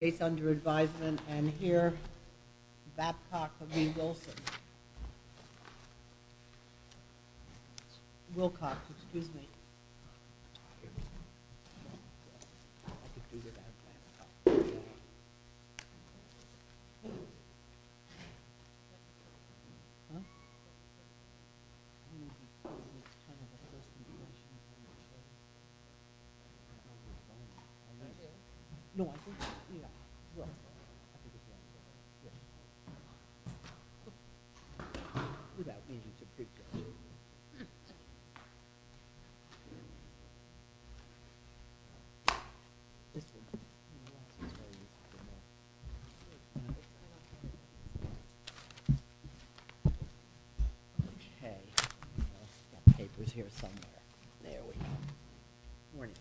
Case under advisement, and here, Babcock v. Wilson Well, I think it's around here. Without me, he's a big guy. Okay, I'll set my papers here somewhere. There we go. Morning.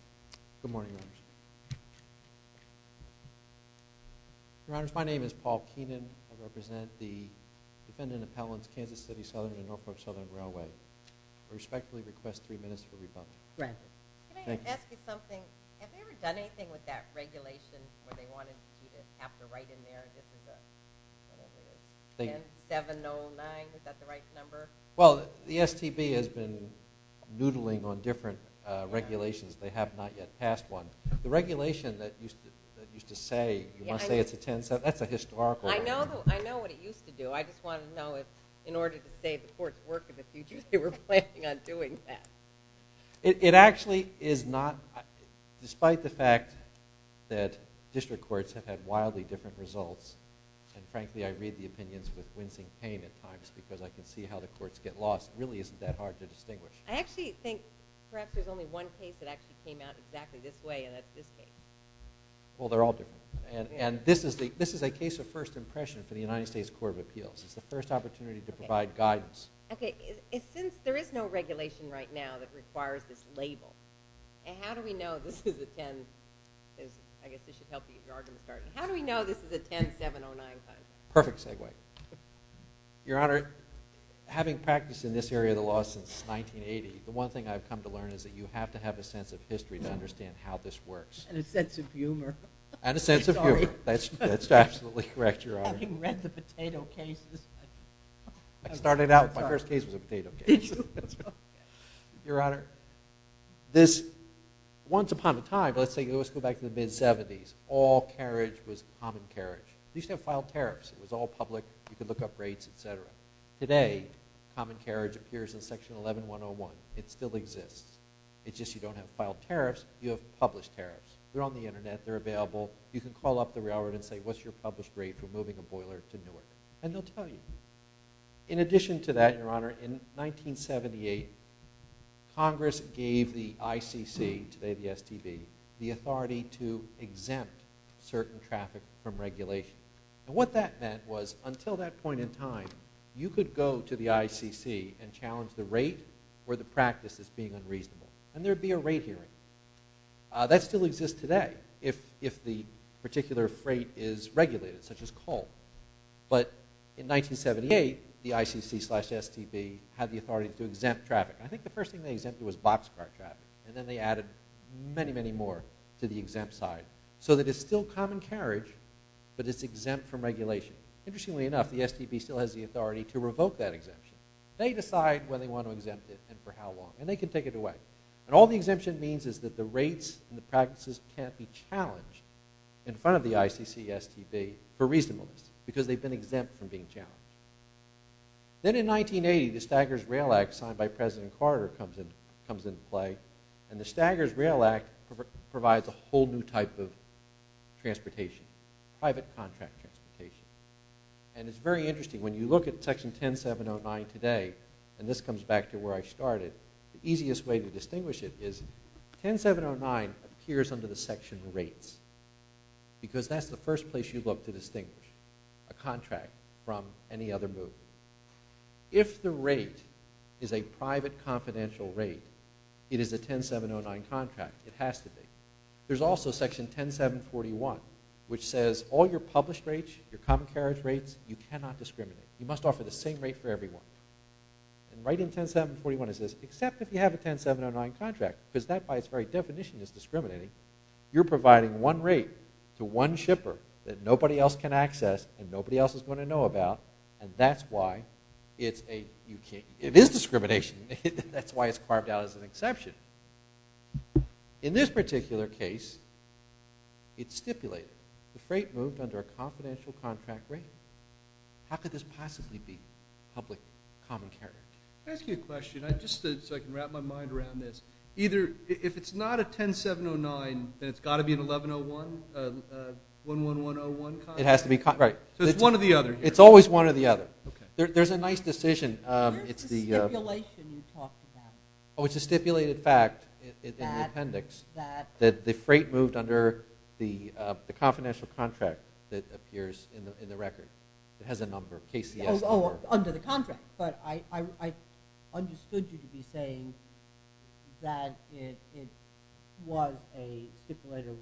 Good morning, ladies. Your Honors, my name is Paul Keenan. I represent the defendant appellants, Kansas City Southern and Norfolk Southern Railway. I respectfully request three minutes for rebuttal. Thank you. Can I ask you something? Have they ever done anything with that regulation where they wanted you to have to write in there, this is a, I don't know, 10709, is that the right number? Well, the STB has been noodling on different regulations. They have not yet passed one. The regulation that used to say, you want to say it's a 1070, that's a historical regulation. I know what it used to do. I just wanted to know if, in order to save the court's work in the future, they were planning on doing that. It actually is not, despite the fact that district courts have had wildly different results, and frankly, I read the opinions with wincing pain at times because I can see how the courts get lost, it really isn't that hard to distinguish. I actually think perhaps there's only one case that actually came out exactly this way, and that's this case. Well, they're all different. And this is a case of first impression for the United States Court of Appeals. It's the first opportunity to provide guidance. Okay. Since there is no regulation right now that requires this label, how do we know this is a 10, I guess this should help you get your argument started, how do we know this is a 10709? Perfect segue. Your Honor, having practiced in this area of the law since 1980, the one thing I've come to learn is that you have to have a sense of history to understand how this works. And a sense of humor. And a sense of humor. Sorry. That's absolutely correct, Your Honor. Having read the potato cases. I started out, my first case was a potato case. Did you? Your Honor, this, once upon a time, let's go back to the mid-'70s, all carriage was common carriage. You used to have filed tariffs. It was all public. You could look up rates, et cetera. Today, common carriage appears in Section 11101. It still exists. It's just you don't have filed tariffs, you have published tariffs. They're on the Internet. They're available. You can call up the railroad and say, what's your published rate for moving a boiler to Newark? And they'll tell you. In addition to that, Your Honor, in 1978, Congress gave the ICC, today the STB, the authority to exempt certain traffic from regulation. And what that meant was until that point in time, you could go to the ICC and challenge the rate where the practice is being unreasonable. And there would be a rate hearing. That still exists today if the particular freight is regulated, such as coal. But in 1978, the ICC slash STB had the authority to exempt traffic. I think the first thing they exempted was boxcar traffic. And then they added many, many more to the exempt side so that it's still common carriage, but it's exempt from regulation. Interestingly enough, the STB still has the authority to revoke that exemption. They decide when they want to exempt it and for how long. And they can take it away. And all the exemption means is that the rates and the practices can't be challenged in front of the ICC, STB, for reasonableness because they've been exempt from being challenged. Then in 1980, the Staggers Rail Act, signed by President Carter, comes into play. And the Staggers Rail Act provides a whole new type of transportation, private contract transportation. And it's very interesting. When you look at Section 10709 today, and this comes back to where I started, the easiest way to distinguish it is 10709 appears under the section rates because that's the first place you look to distinguish a contract from any other move. If the rate is a private confidential rate, it is a 10709 contract. It has to be. There's also Section 10741, which says all your published rates, your common carriage rates, you cannot discriminate. You must offer the same rate for everyone. And right in 10741 it says, except if you have a 10709 contract, because that by its very definition is discriminating, you're providing one rate to one shipper that nobody else can access and nobody else is going to know about. And that's why it's a, you can't, it is discrimination. That's why it's carved out as an exception. In this particular case, it's stipulated. The freight moved under a confidential contract rate. How could this possibly be public common carriage? Let me ask you a question, just so I can wrap my mind around this. Either, if it's not a 10709, then it's got to be an 1101, 11101 contract? It has to be, right. So it's one or the other. It's always one or the other. Okay. There's a nice decision. Where's the stipulation you talked about? Oh, it's a stipulated fact in the appendix that the freight moved under the confidential contract that appears in the record. It has a number, KCS. Oh, under the contract. But I understood you to be saying that it was a stipulated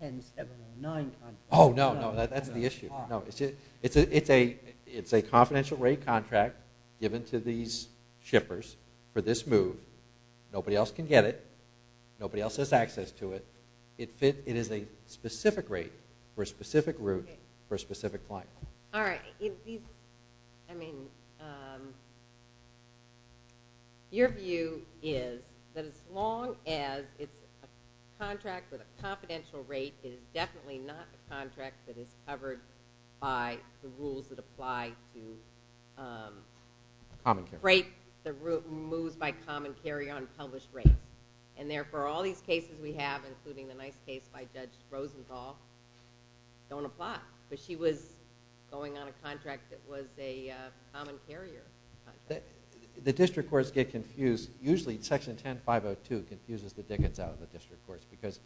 10709 contract. Oh, no, no, that's the issue. It's a confidential rate contract given to these shippers for this move. Nobody else can get it. Nobody else has access to it. It is a specific rate for a specific route for a specific flight. All right. I mean, your view is that as long as it's a contract with a confidential rate, it is definitely not a contract that is covered by the rules that apply to freight moves by common carry on published rates. And therefore, all these cases we have, including the nice case by Judge Rosenthal, don't apply. But she was going on a contract that was a common carrier. The district courts get confused. Usually Section 10502 confuses the dickens out of the district courts because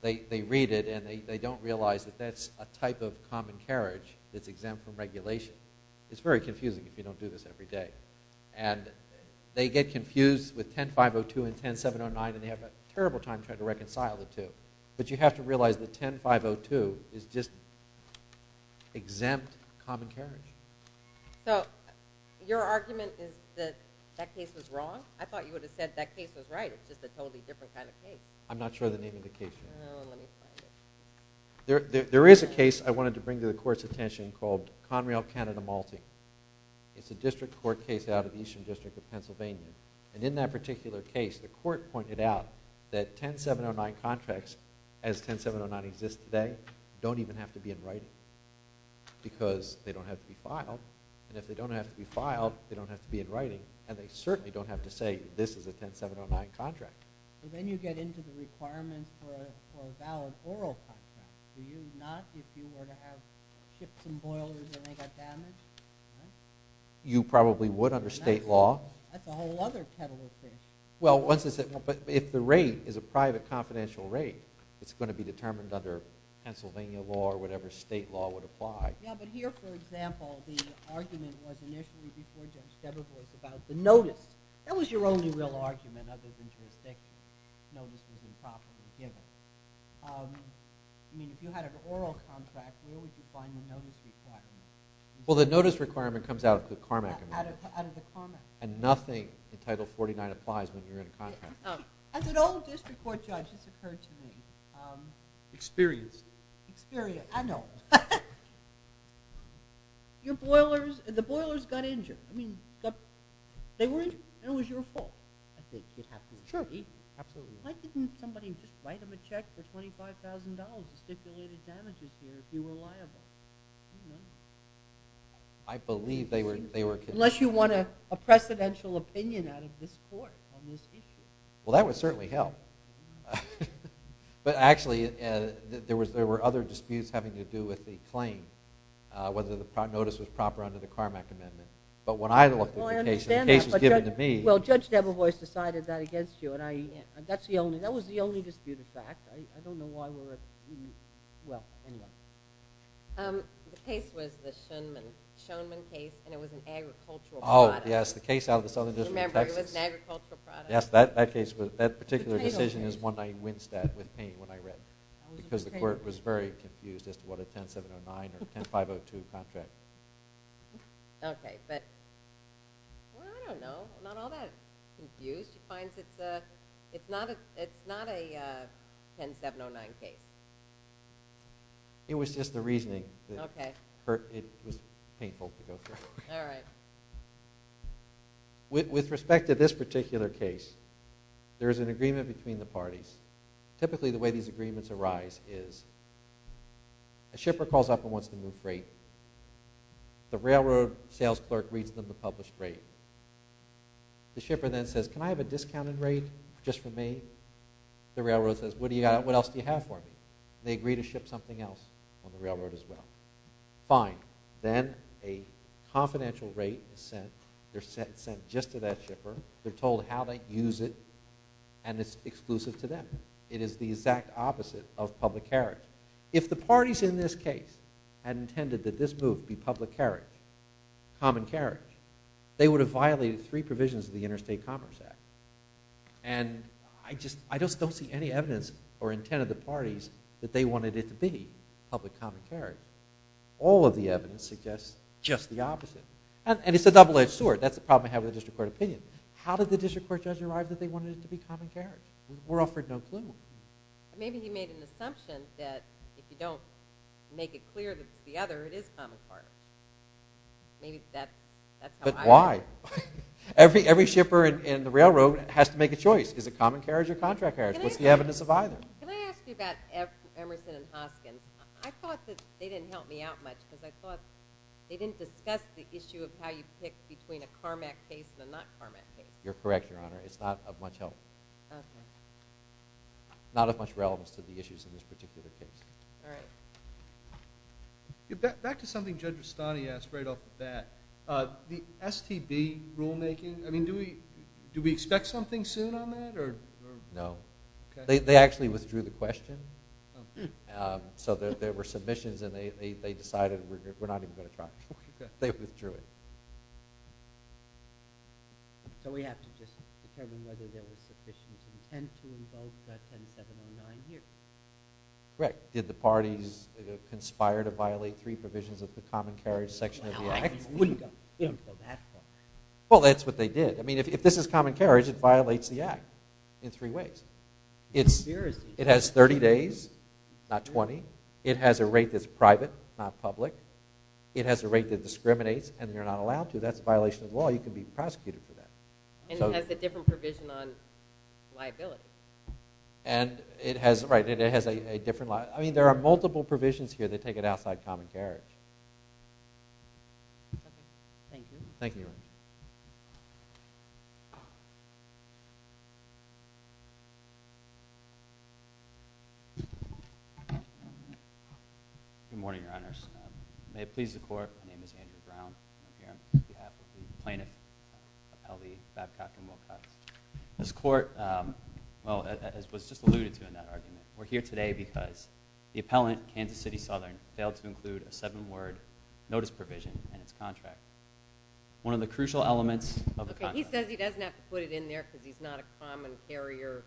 they read it and they don't realize that that's a type of common carriage that's exempt from regulation. It's very confusing if you don't do this every day. And they get confused with 10502 and 10709, and they have a terrible time trying to reconcile the two. But you have to realize that 10502 is just exempt common carriage. So your argument is that that case was wrong? I thought you would have said that case was right. It's just a totally different kind of case. I'm not sure of the name of the case. Oh, let me find it. There is a case I wanted to bring to the Court's attention called Conrail Canada Malting. It's a district court case out of Eastern District of Pennsylvania. And in that particular case, the Court pointed out that 10709 contracts, as 10709 exists today, don't even have to be in writing because they don't have to be filed. And if they don't have to be filed, they don't have to be in writing, and they certainly don't have to say this is a 10709 contract. But then you get into the requirements for a valid oral contract, do you? Not if you were to have chips and boilers and they got damaged? You probably would under state law. That's a whole other kettle of fish. Well, but if the rate is a private confidential rate, it's going to be determined under Pennsylvania law or whatever state law would apply. Yeah, but here, for example, the argument was initially before Judge Debevor was about the notice. That was your only real argument other than jurisdiction. Notice was improperly given. I mean, if you had an oral contract, where would you find the notice requirement? Well, the notice requirement comes out of the Carmack Amendment. And nothing in Title 49 applies when you're in a contract. As an old district court judge, this occurred to me. Experienced. Experienced, I know. Your boilers, the boilers got injured. I mean, they were injured, and it was your fault. I think it has to be true. Why didn't somebody just write them a check for $25,000 and stipulated damages here if you were liable? I believe they were kidnapped. Unless you want a precedential opinion out of this court on this issue. Well, that would certainly help. But actually, there were other disputes having to do with the claim, whether the notice was proper under the Carmack Amendment. But when I looked at the case, the case was given to me. Well, Judge Debevor has decided that against you, and that was the only disputed fact. I don't know why we're at the – well, anyway. The case was the Schoenman case, and it was an agricultural product. Oh, yes, the case out of the Southern District of Texas. Remember, it was an agricultural product. Yes, that particular decision is one I winced at with pain when I read it because the court was very confused as to what a 10709 or 10502 contract. Okay, but I don't know, not all that confused. So the judge finds it's not a 10709 case? It was just the reasoning. Okay. It was painful to go through. All right. With respect to this particular case, there is an agreement between the parties. Typically, the way these agreements arise is a shipper calls up and wants to move freight. The railroad sales clerk reads them the published rate. The shipper then says, can I have a discounted rate just for me? The railroad says, what else do you have for me? They agree to ship something else on the railroad as well. Fine. Then a confidential rate is sent. They're sent just to that shipper. They're told how they use it, and it's exclusive to them. It is the exact opposite of public carriage. If the parties in this case had intended that this move be public carriage, they would have violated three provisions of the Interstate Commerce Act. And I just don't see any evidence or intent of the parties that they wanted it to be public common carriage. All of the evidence suggests just the opposite. And it's a double-edged sword. That's the problem I have with the district court opinion. How did the district court judge arrive that they wanted it to be common carriage? We're offered no clue. Maybe he made an assumption that if you don't make it clear that it's the other, it is common carriage. Maybe that's how I feel. But why? Every shipper in the railroad has to make a choice. Is it common carriage or contract carriage? What's the evidence of either? Can I ask you about Emerson and Hoskins? I thought that they didn't help me out much because I thought they didn't discuss the issue of how you pick between a CARMAC case and a not CARMAC case. You're correct, Your Honor. It's not of much help. Okay. Not of much relevance to the issues in this particular case. All right. Back to something Judge Rustani asked right off the bat. The STB rulemaking, do we expect something soon on that? No. They actually withdrew the question. So there were submissions, and they decided we're not even going to try. They withdrew it. So we have to just determine whether there was sufficient intent to invoke that 10709 here. Correct. Did the parties conspire to violate three provisions of the common carriage section of the Act? I wouldn't go that far. Well, that's what they did. I mean, if this is common carriage, it violates the Act in three ways. It has 30 days, not 20. It has a rate that's private, not public. It has a rate that discriminates, and you're not allowed to. That's a violation of the law. You can be prosecuted for that. And it has a different provision on liability. Right. It has a different law. I mean, there are multiple provisions here that take it outside common carriage. Okay. Thank you. Thank you, Your Honor. Good morning, Your Honors. May it please the Court, my name is Andrew Brown. I'm here on behalf of the plaintiff, Appellee Babcock and Wilcox. This Court, well, as was just alluded to in that argument, we're here today because the appellant, Kansas City Southern, failed to include a seven-word notice provision in its contract. One of the crucial elements of the contract. He says he doesn't have to put it in there because he's not a common carrier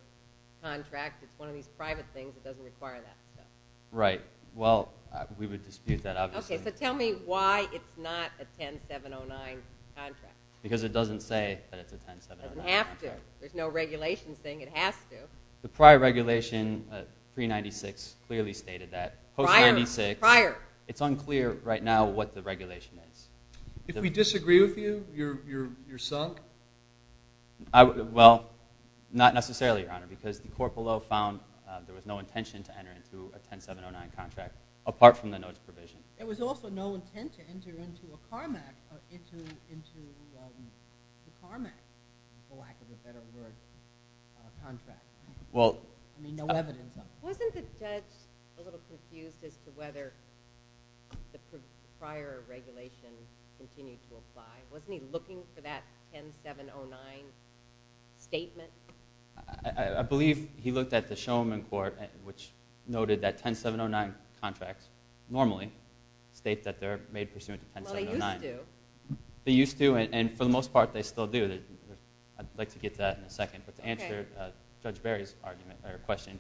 contract. It's one of these private things that doesn't require that. Right. Well, we would dispute that, obviously. Okay. So tell me why it's not a 10709 contract. Because it doesn't say that it's a 10709. It doesn't have to. There's no regulation saying it has to. The prior regulation, 396, clearly stated that. Prior. Prior. It's unclear right now what the regulation is. If we disagree with you, you're sunk? Well, not necessarily, Your Honor, because the court below found there was no intention to enter into a 10709 contract, apart from the notice provision. There was also no intent to enter into a CARMAC, or into the CARMAC, for lack of a better word, contract. I mean, no evidence of it. Wasn't the judge a little confused as to whether the prior regulation continued to apply? Wasn't he looking for that 10709 statement? I believe he looked at the showman court, which noted that 10709 contracts normally state that they're made pursuant to 10709. Well, they used to. They used to, and for the most part, they still do. I'd like to get to that in a second. But to answer Judge Barry's question,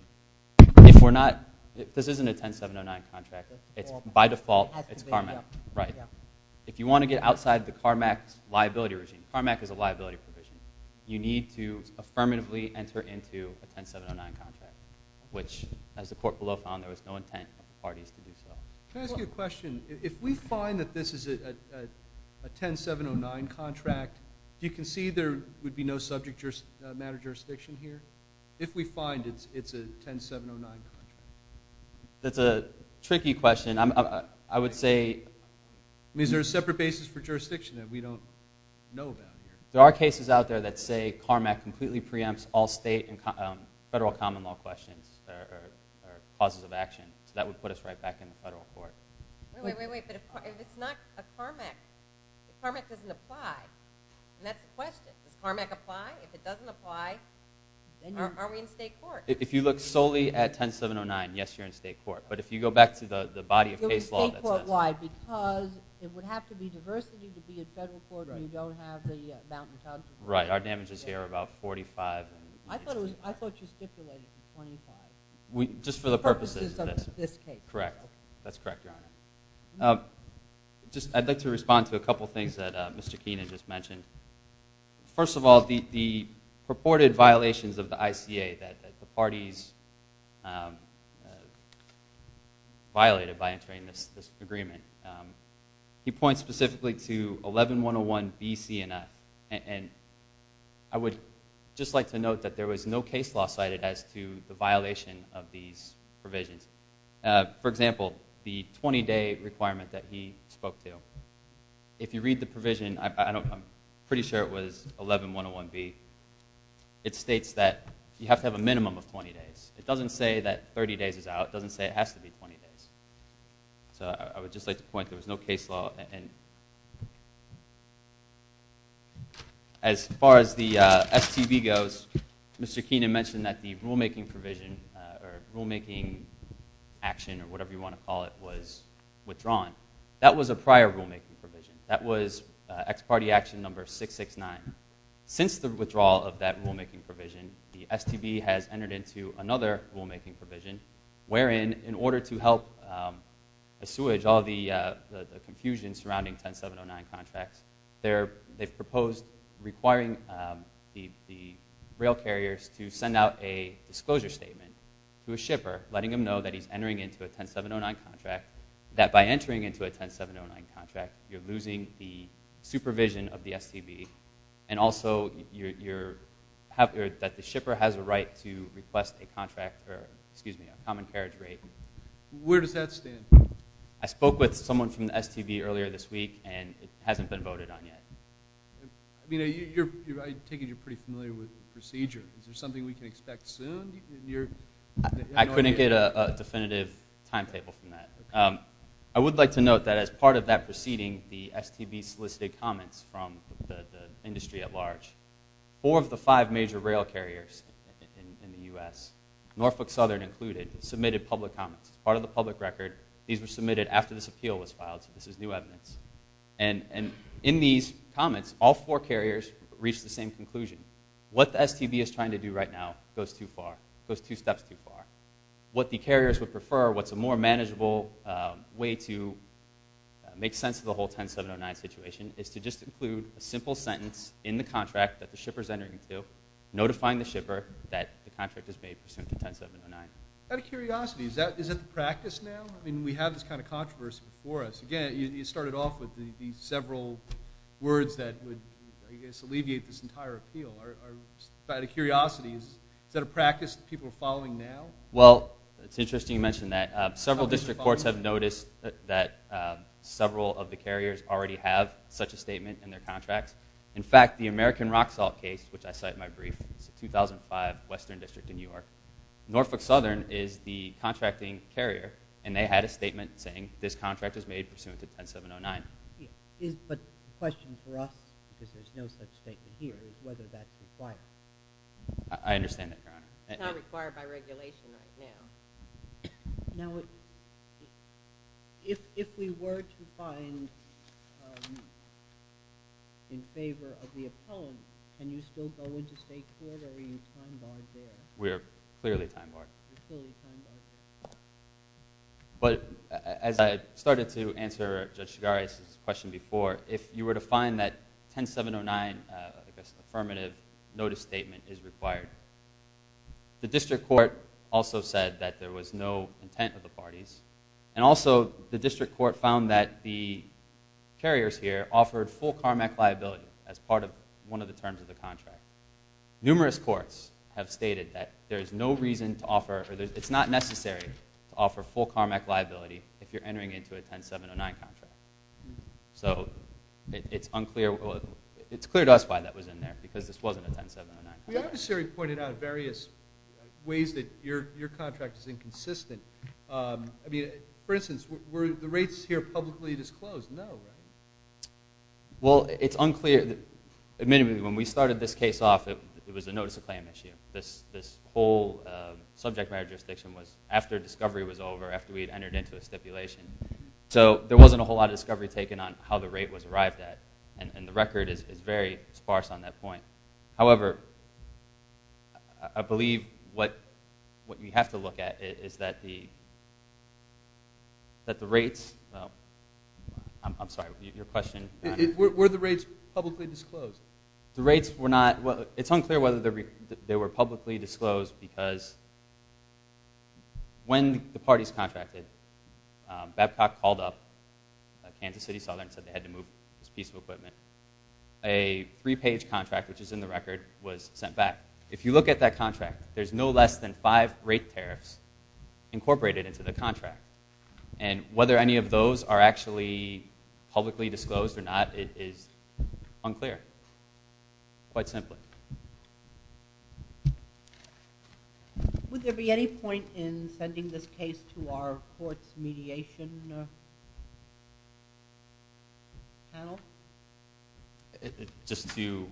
if we're not – this isn't a 10709 contract. By default, it's CARMAC. If you want to get outside the CARMAC's liability regime, CARMAC is a liability provision, you need to affirmatively enter into a 10709 contract, which, as the court below found, there was no intent for the parties to do so. Can I ask you a question? If we find that this is a 10709 contract, do you concede there would be no subject matter jurisdiction here? If we find it's a 10709 contract? That's a tricky question. I would say – I mean, is there a separate basis for jurisdiction that we don't know about here? There are cases out there that say CARMAC completely preempts all state and federal common law questions or causes of action. So that would put us right back in the federal court. Wait, wait, wait. If it's not a CARMAC, if CARMAC doesn't apply, and that's the question. Does CARMAC apply? If it doesn't apply, are we in state court? If you look solely at 10709, yes, you're in state court. But if you go back to the body of case law that says – It would be state court-wide because it would have to be diversity to be a federal court and you don't have the mountain towns. Right. Our damages here are about 45. I thought you stipulated 25. Just for the purposes of this case. Correct. That's correct, Your Honor. I'd like to respond to a couple of things that Mr. Keenan just mentioned. First of all, the purported violations of the ICA that the parties violated by entering this agreement. He points specifically to 11-101-B, C, and I. And I would just like to note that there was no case law cited as to the violation of these provisions. For example, the 20-day requirement that he spoke to. If you read the provision, I'm pretty sure it was 11-101-B. It states that you have to have a minimum of 20 days. It doesn't say that 30 days is out. It doesn't say it has to be 20 days. So I would just like to point, there was no case law. As far as the STB goes, Mr. Keenan mentioned that the rulemaking provision, or rulemaking action, or whatever you want to call it, was withdrawn. That was a prior rulemaking provision. That was ex parte action number 669. Since the withdrawal of that rulemaking provision, the STB has entered into another rulemaking provision. In order to help assuage all the confusion surrounding 10-709 contracts, they've proposed requiring the rail carriers to send out a disclosure statement to a shipper, letting them know that he's entering into a 10-709 contract. That by entering into a 10-709 contract, you're losing the supervision of the STB. And also, that the shipper has a right to request a common carriage rate. Where does that stand? I spoke with someone from the STB earlier this week, and it hasn't been voted on yet. I take it you're pretty familiar with the procedure. Is there something we can expect soon? I couldn't get a definitive timetable from that. I would like to note that as part of that proceeding, the STB solicited comments from the industry at large. Four of the five major rail carriers in the U.S., Norfolk Southern included, submitted public comments. It's part of the public record. These were submitted after this appeal was filed, so this is new evidence. And in these comments, all four carriers reached the same conclusion. What the STB is trying to do right now goes two steps too far. What the carriers would prefer, what's a more manageable way to make sense of the whole 10-709 situation, is to just include a simple sentence in the contract that the shipper is entering into, notifying the shipper that the contract is made pursuant to 10-709. Out of curiosity, is that a practice now? I mean, we have this kind of controversy before us. Again, you started off with these several words that would, I guess, alleviate this entire appeal. Out of curiosity, is that a practice that people are following now? Well, it's interesting you mention that. Several district courts have noticed that several of the carriers already have such a statement in their contracts. In fact, the American Rock Salt case, which I cite in my brief, it's a 2005 western district in New York. Norfolk Southern is the contracting carrier, and they had a statement saying this contract is made pursuant to 10-709. But the question for us, because there's no such statement here, is whether that's required. I understand that, Your Honor. It's not required by regulation right now. Now, if we were to find in favor of the appellant, can you still go into state court, or are you time-barred there? We're clearly time-barred. You're clearly time-barred. But as I started to answer Judge Chigares' question before, if you were to find that 10-709 affirmative notice statement is required, the district court also said that there was no intent of the parties, and also the district court found that the carriers here offered full CARMEC liability as part of one of the terms of the contract. Numerous courts have stated that it's not necessary to offer full CARMEC liability if you're entering into a 10-709 contract. So it's clear to us why that was in there, because this wasn't a 10-709 contract. The adversary pointed out various ways that your contract is inconsistent. I mean, for instance, were the rates here publicly disclosed? No, right? Well, it's unclear. Admittedly, when we started this case off, it was a notice-of-claim issue. This whole subject matter jurisdiction was after discovery was over, after we had entered into a stipulation. So there wasn't a whole lot of discovery taken on how the rate was arrived at, and the record is very sparse on that point. However, I believe what we have to look at is that the rates – I'm sorry, your question? Were the rates publicly disclosed? The rates were not – it's unclear whether they were publicly disclosed, because when the parties contracted, Babcock called up Kansas City Southern and said they had to move this piece of equipment. A three-page contract, which is in the record, was sent back. If you look at that contract, there's no less than five rate tariffs incorporated into the contract. And whether any of those are actually publicly disclosed or not is unclear, quite simply. Would there be any point in sending this case to our courts' mediation panel? Just to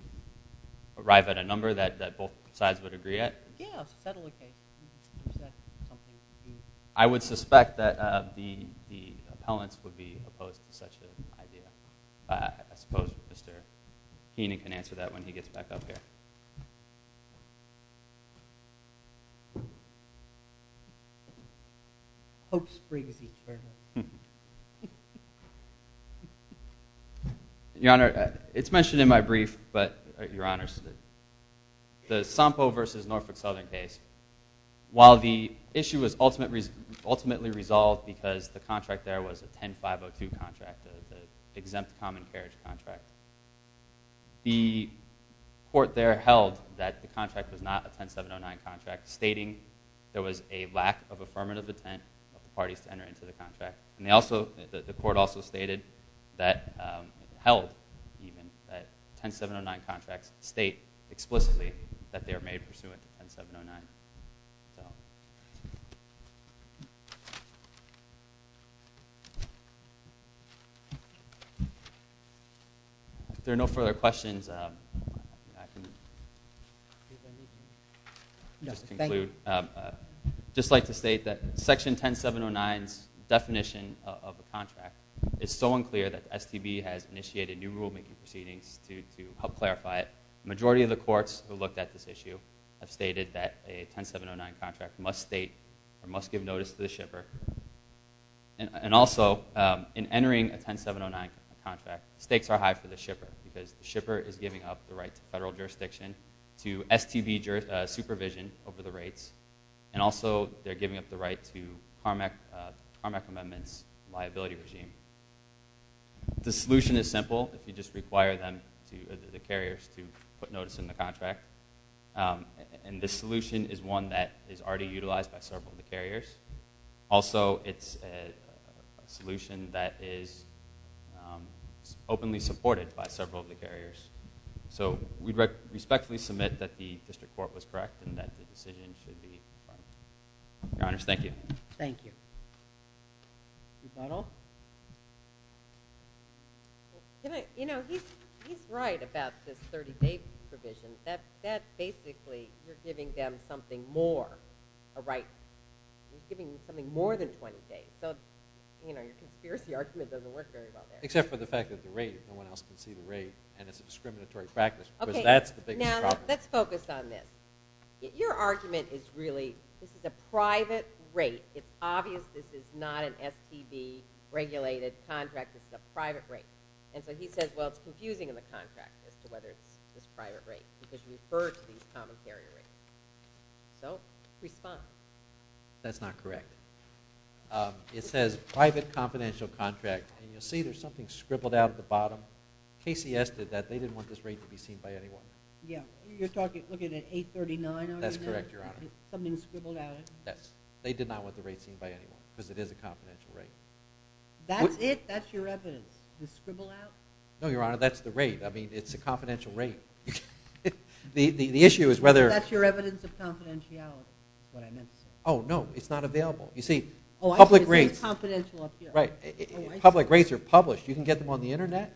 arrive at a number that both sides would agree at? Yes, settle the case. I would suspect that the appellants would be opposed to such an idea. I suppose Mr. Keenan can answer that when he gets back up here. Your Honor, it's mentioned in my brief, but your Honor, the Sampo v. Norfolk Southern case, while the issue was ultimately resolved because the contract there was a 10-502 contract, the exempt common carriage contract, the court there held that the contract was not a 10-709 contract, stating there was a lack of affirmative intent of the parties to enter into the contract. The court also stated, held even, that 10-709 contracts state explicitly that they are made pursuant to 10-709. If there are no further questions, I can just conclude. I'd just like to state that section 10-709's definition of a contract is so unclear that the STB has initiated new rulemaking proceedings to help clarify it. The majority of the courts who looked at this issue have stated that a 10-709 contract must state, or must give notice to the shipper. And also, in entering a 10-709 contract, stakes are high for the shipper, because the shipper is giving up the right to federal jurisdiction, to STB supervision over the rates, and also they're giving up the right to Carmack Amendment's liability regime. The solution is simple. You just require them, the carriers, to put notice in the contract. And this solution is one that is already utilized by several of the carriers. Also, it's a solution that is openly supported by several of the carriers. So, we respectfully submit that the district court was correct and that the decision should be final. Your Honors, thank you. Thank you. Ms. Butler? You know, he's right about this 30-day provision. That's basically, you're giving them something more, a right. You're giving them something more than 20 days. So, you know, your conspiracy argument doesn't work very well there. Except for the fact that the rate, no one else can see the rate, and it's a discriminatory practice. Okay. Because that's the biggest problem. Now, let's focus on this. Your argument is really, this is a private rate. It's obvious this is not an STB-regulated contract. This is a private rate. And so he says, well, it's confusing in the contract as to whether it's this private rate. Because you refer to these common carrier rates. So, respond. That's not correct. It says private confidential contract, and you'll see there's something scribbled out at the bottom. KCS did that. They didn't want this rate to be seen by anyone. Yeah. You're talking, looking at 839? That's correct, Your Honor. Something scribbled out. They did not want the rate seen by anyone because it is a confidential rate. That's it. The scribble out? No, Your Honor. That's the rate. I mean, it's a confidential rate. The issue is whether- That's your evidence of confidentiality, is what I meant to say. Oh, no. It's not available. You see, public rates- Oh, I see. It says confidential up here. Right. Public rates are published. You can get them on the Internet.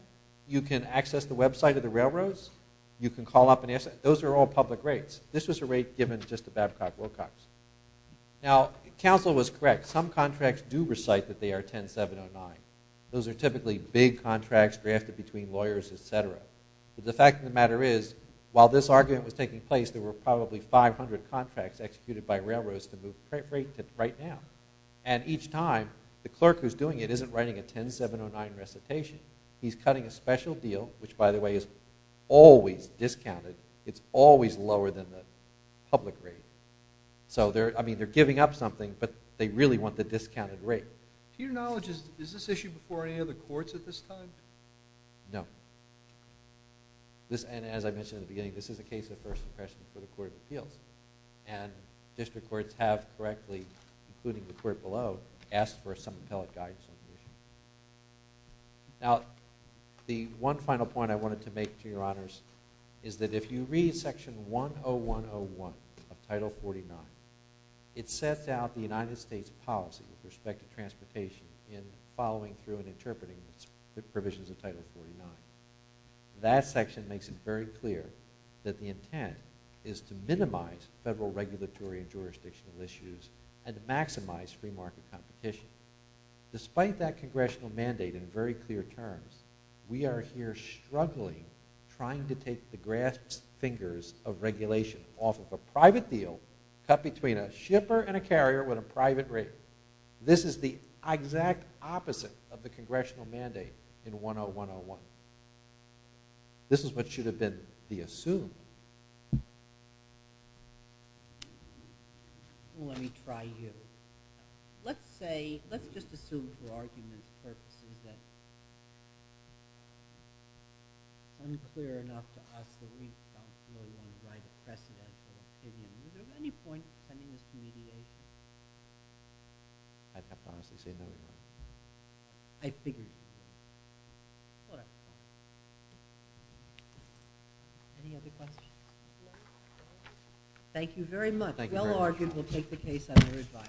You can access the website of the railroads. You can call up and ask. Those are all public rates. This was a rate given just to Babcock Wilcox. Now, counsel was correct. Some contracts do recite that they are 10709. Those are typically big contracts drafted between lawyers, et cetera. But the fact of the matter is, while this argument was taking place, there were probably 500 contracts executed by railroads to move the rate right now. And each time, the clerk who's doing it isn't writing a 10709 recitation. He's cutting a special deal, which, by the way, is always discounted. It's always lower than the public rate. So, I mean, they're giving up something, but they really want the discounted rate. To your knowledge, is this issue before any other courts at this time? No. And as I mentioned in the beginning, this is a case of first impression for the Court of Appeals. And district courts have correctly, including the court below, asked for some appellate guidance on the issue. Now, the one final point I wanted to make, to your honors, is that if you read Section 10101 of Title 49, it sets out the United States policy with respect to transportation in following through and interpreting the provisions of Title 49. That section makes it very clear that the intent is to minimize federal regulatory and jurisdictional issues and to maximize free market competition. Despite that congressional mandate in very clear terms, we are here struggling, trying to take the grass fingers of regulation off of a private deal cut between a shipper and a carrier with a private rate. This is the exact opposite of the congressional mandate in 10101. This is what should have been the assumed. Let me try here. Let's just assume for argument's purposes that it's unclear enough to us that we don't really want to try to press it. Is there any point in pending this mediation? I can't honestly say no to that. I figured you would. All right. Any other questions? Thank you very much. Thank you very much. Well argued. We'll take the case on your advice.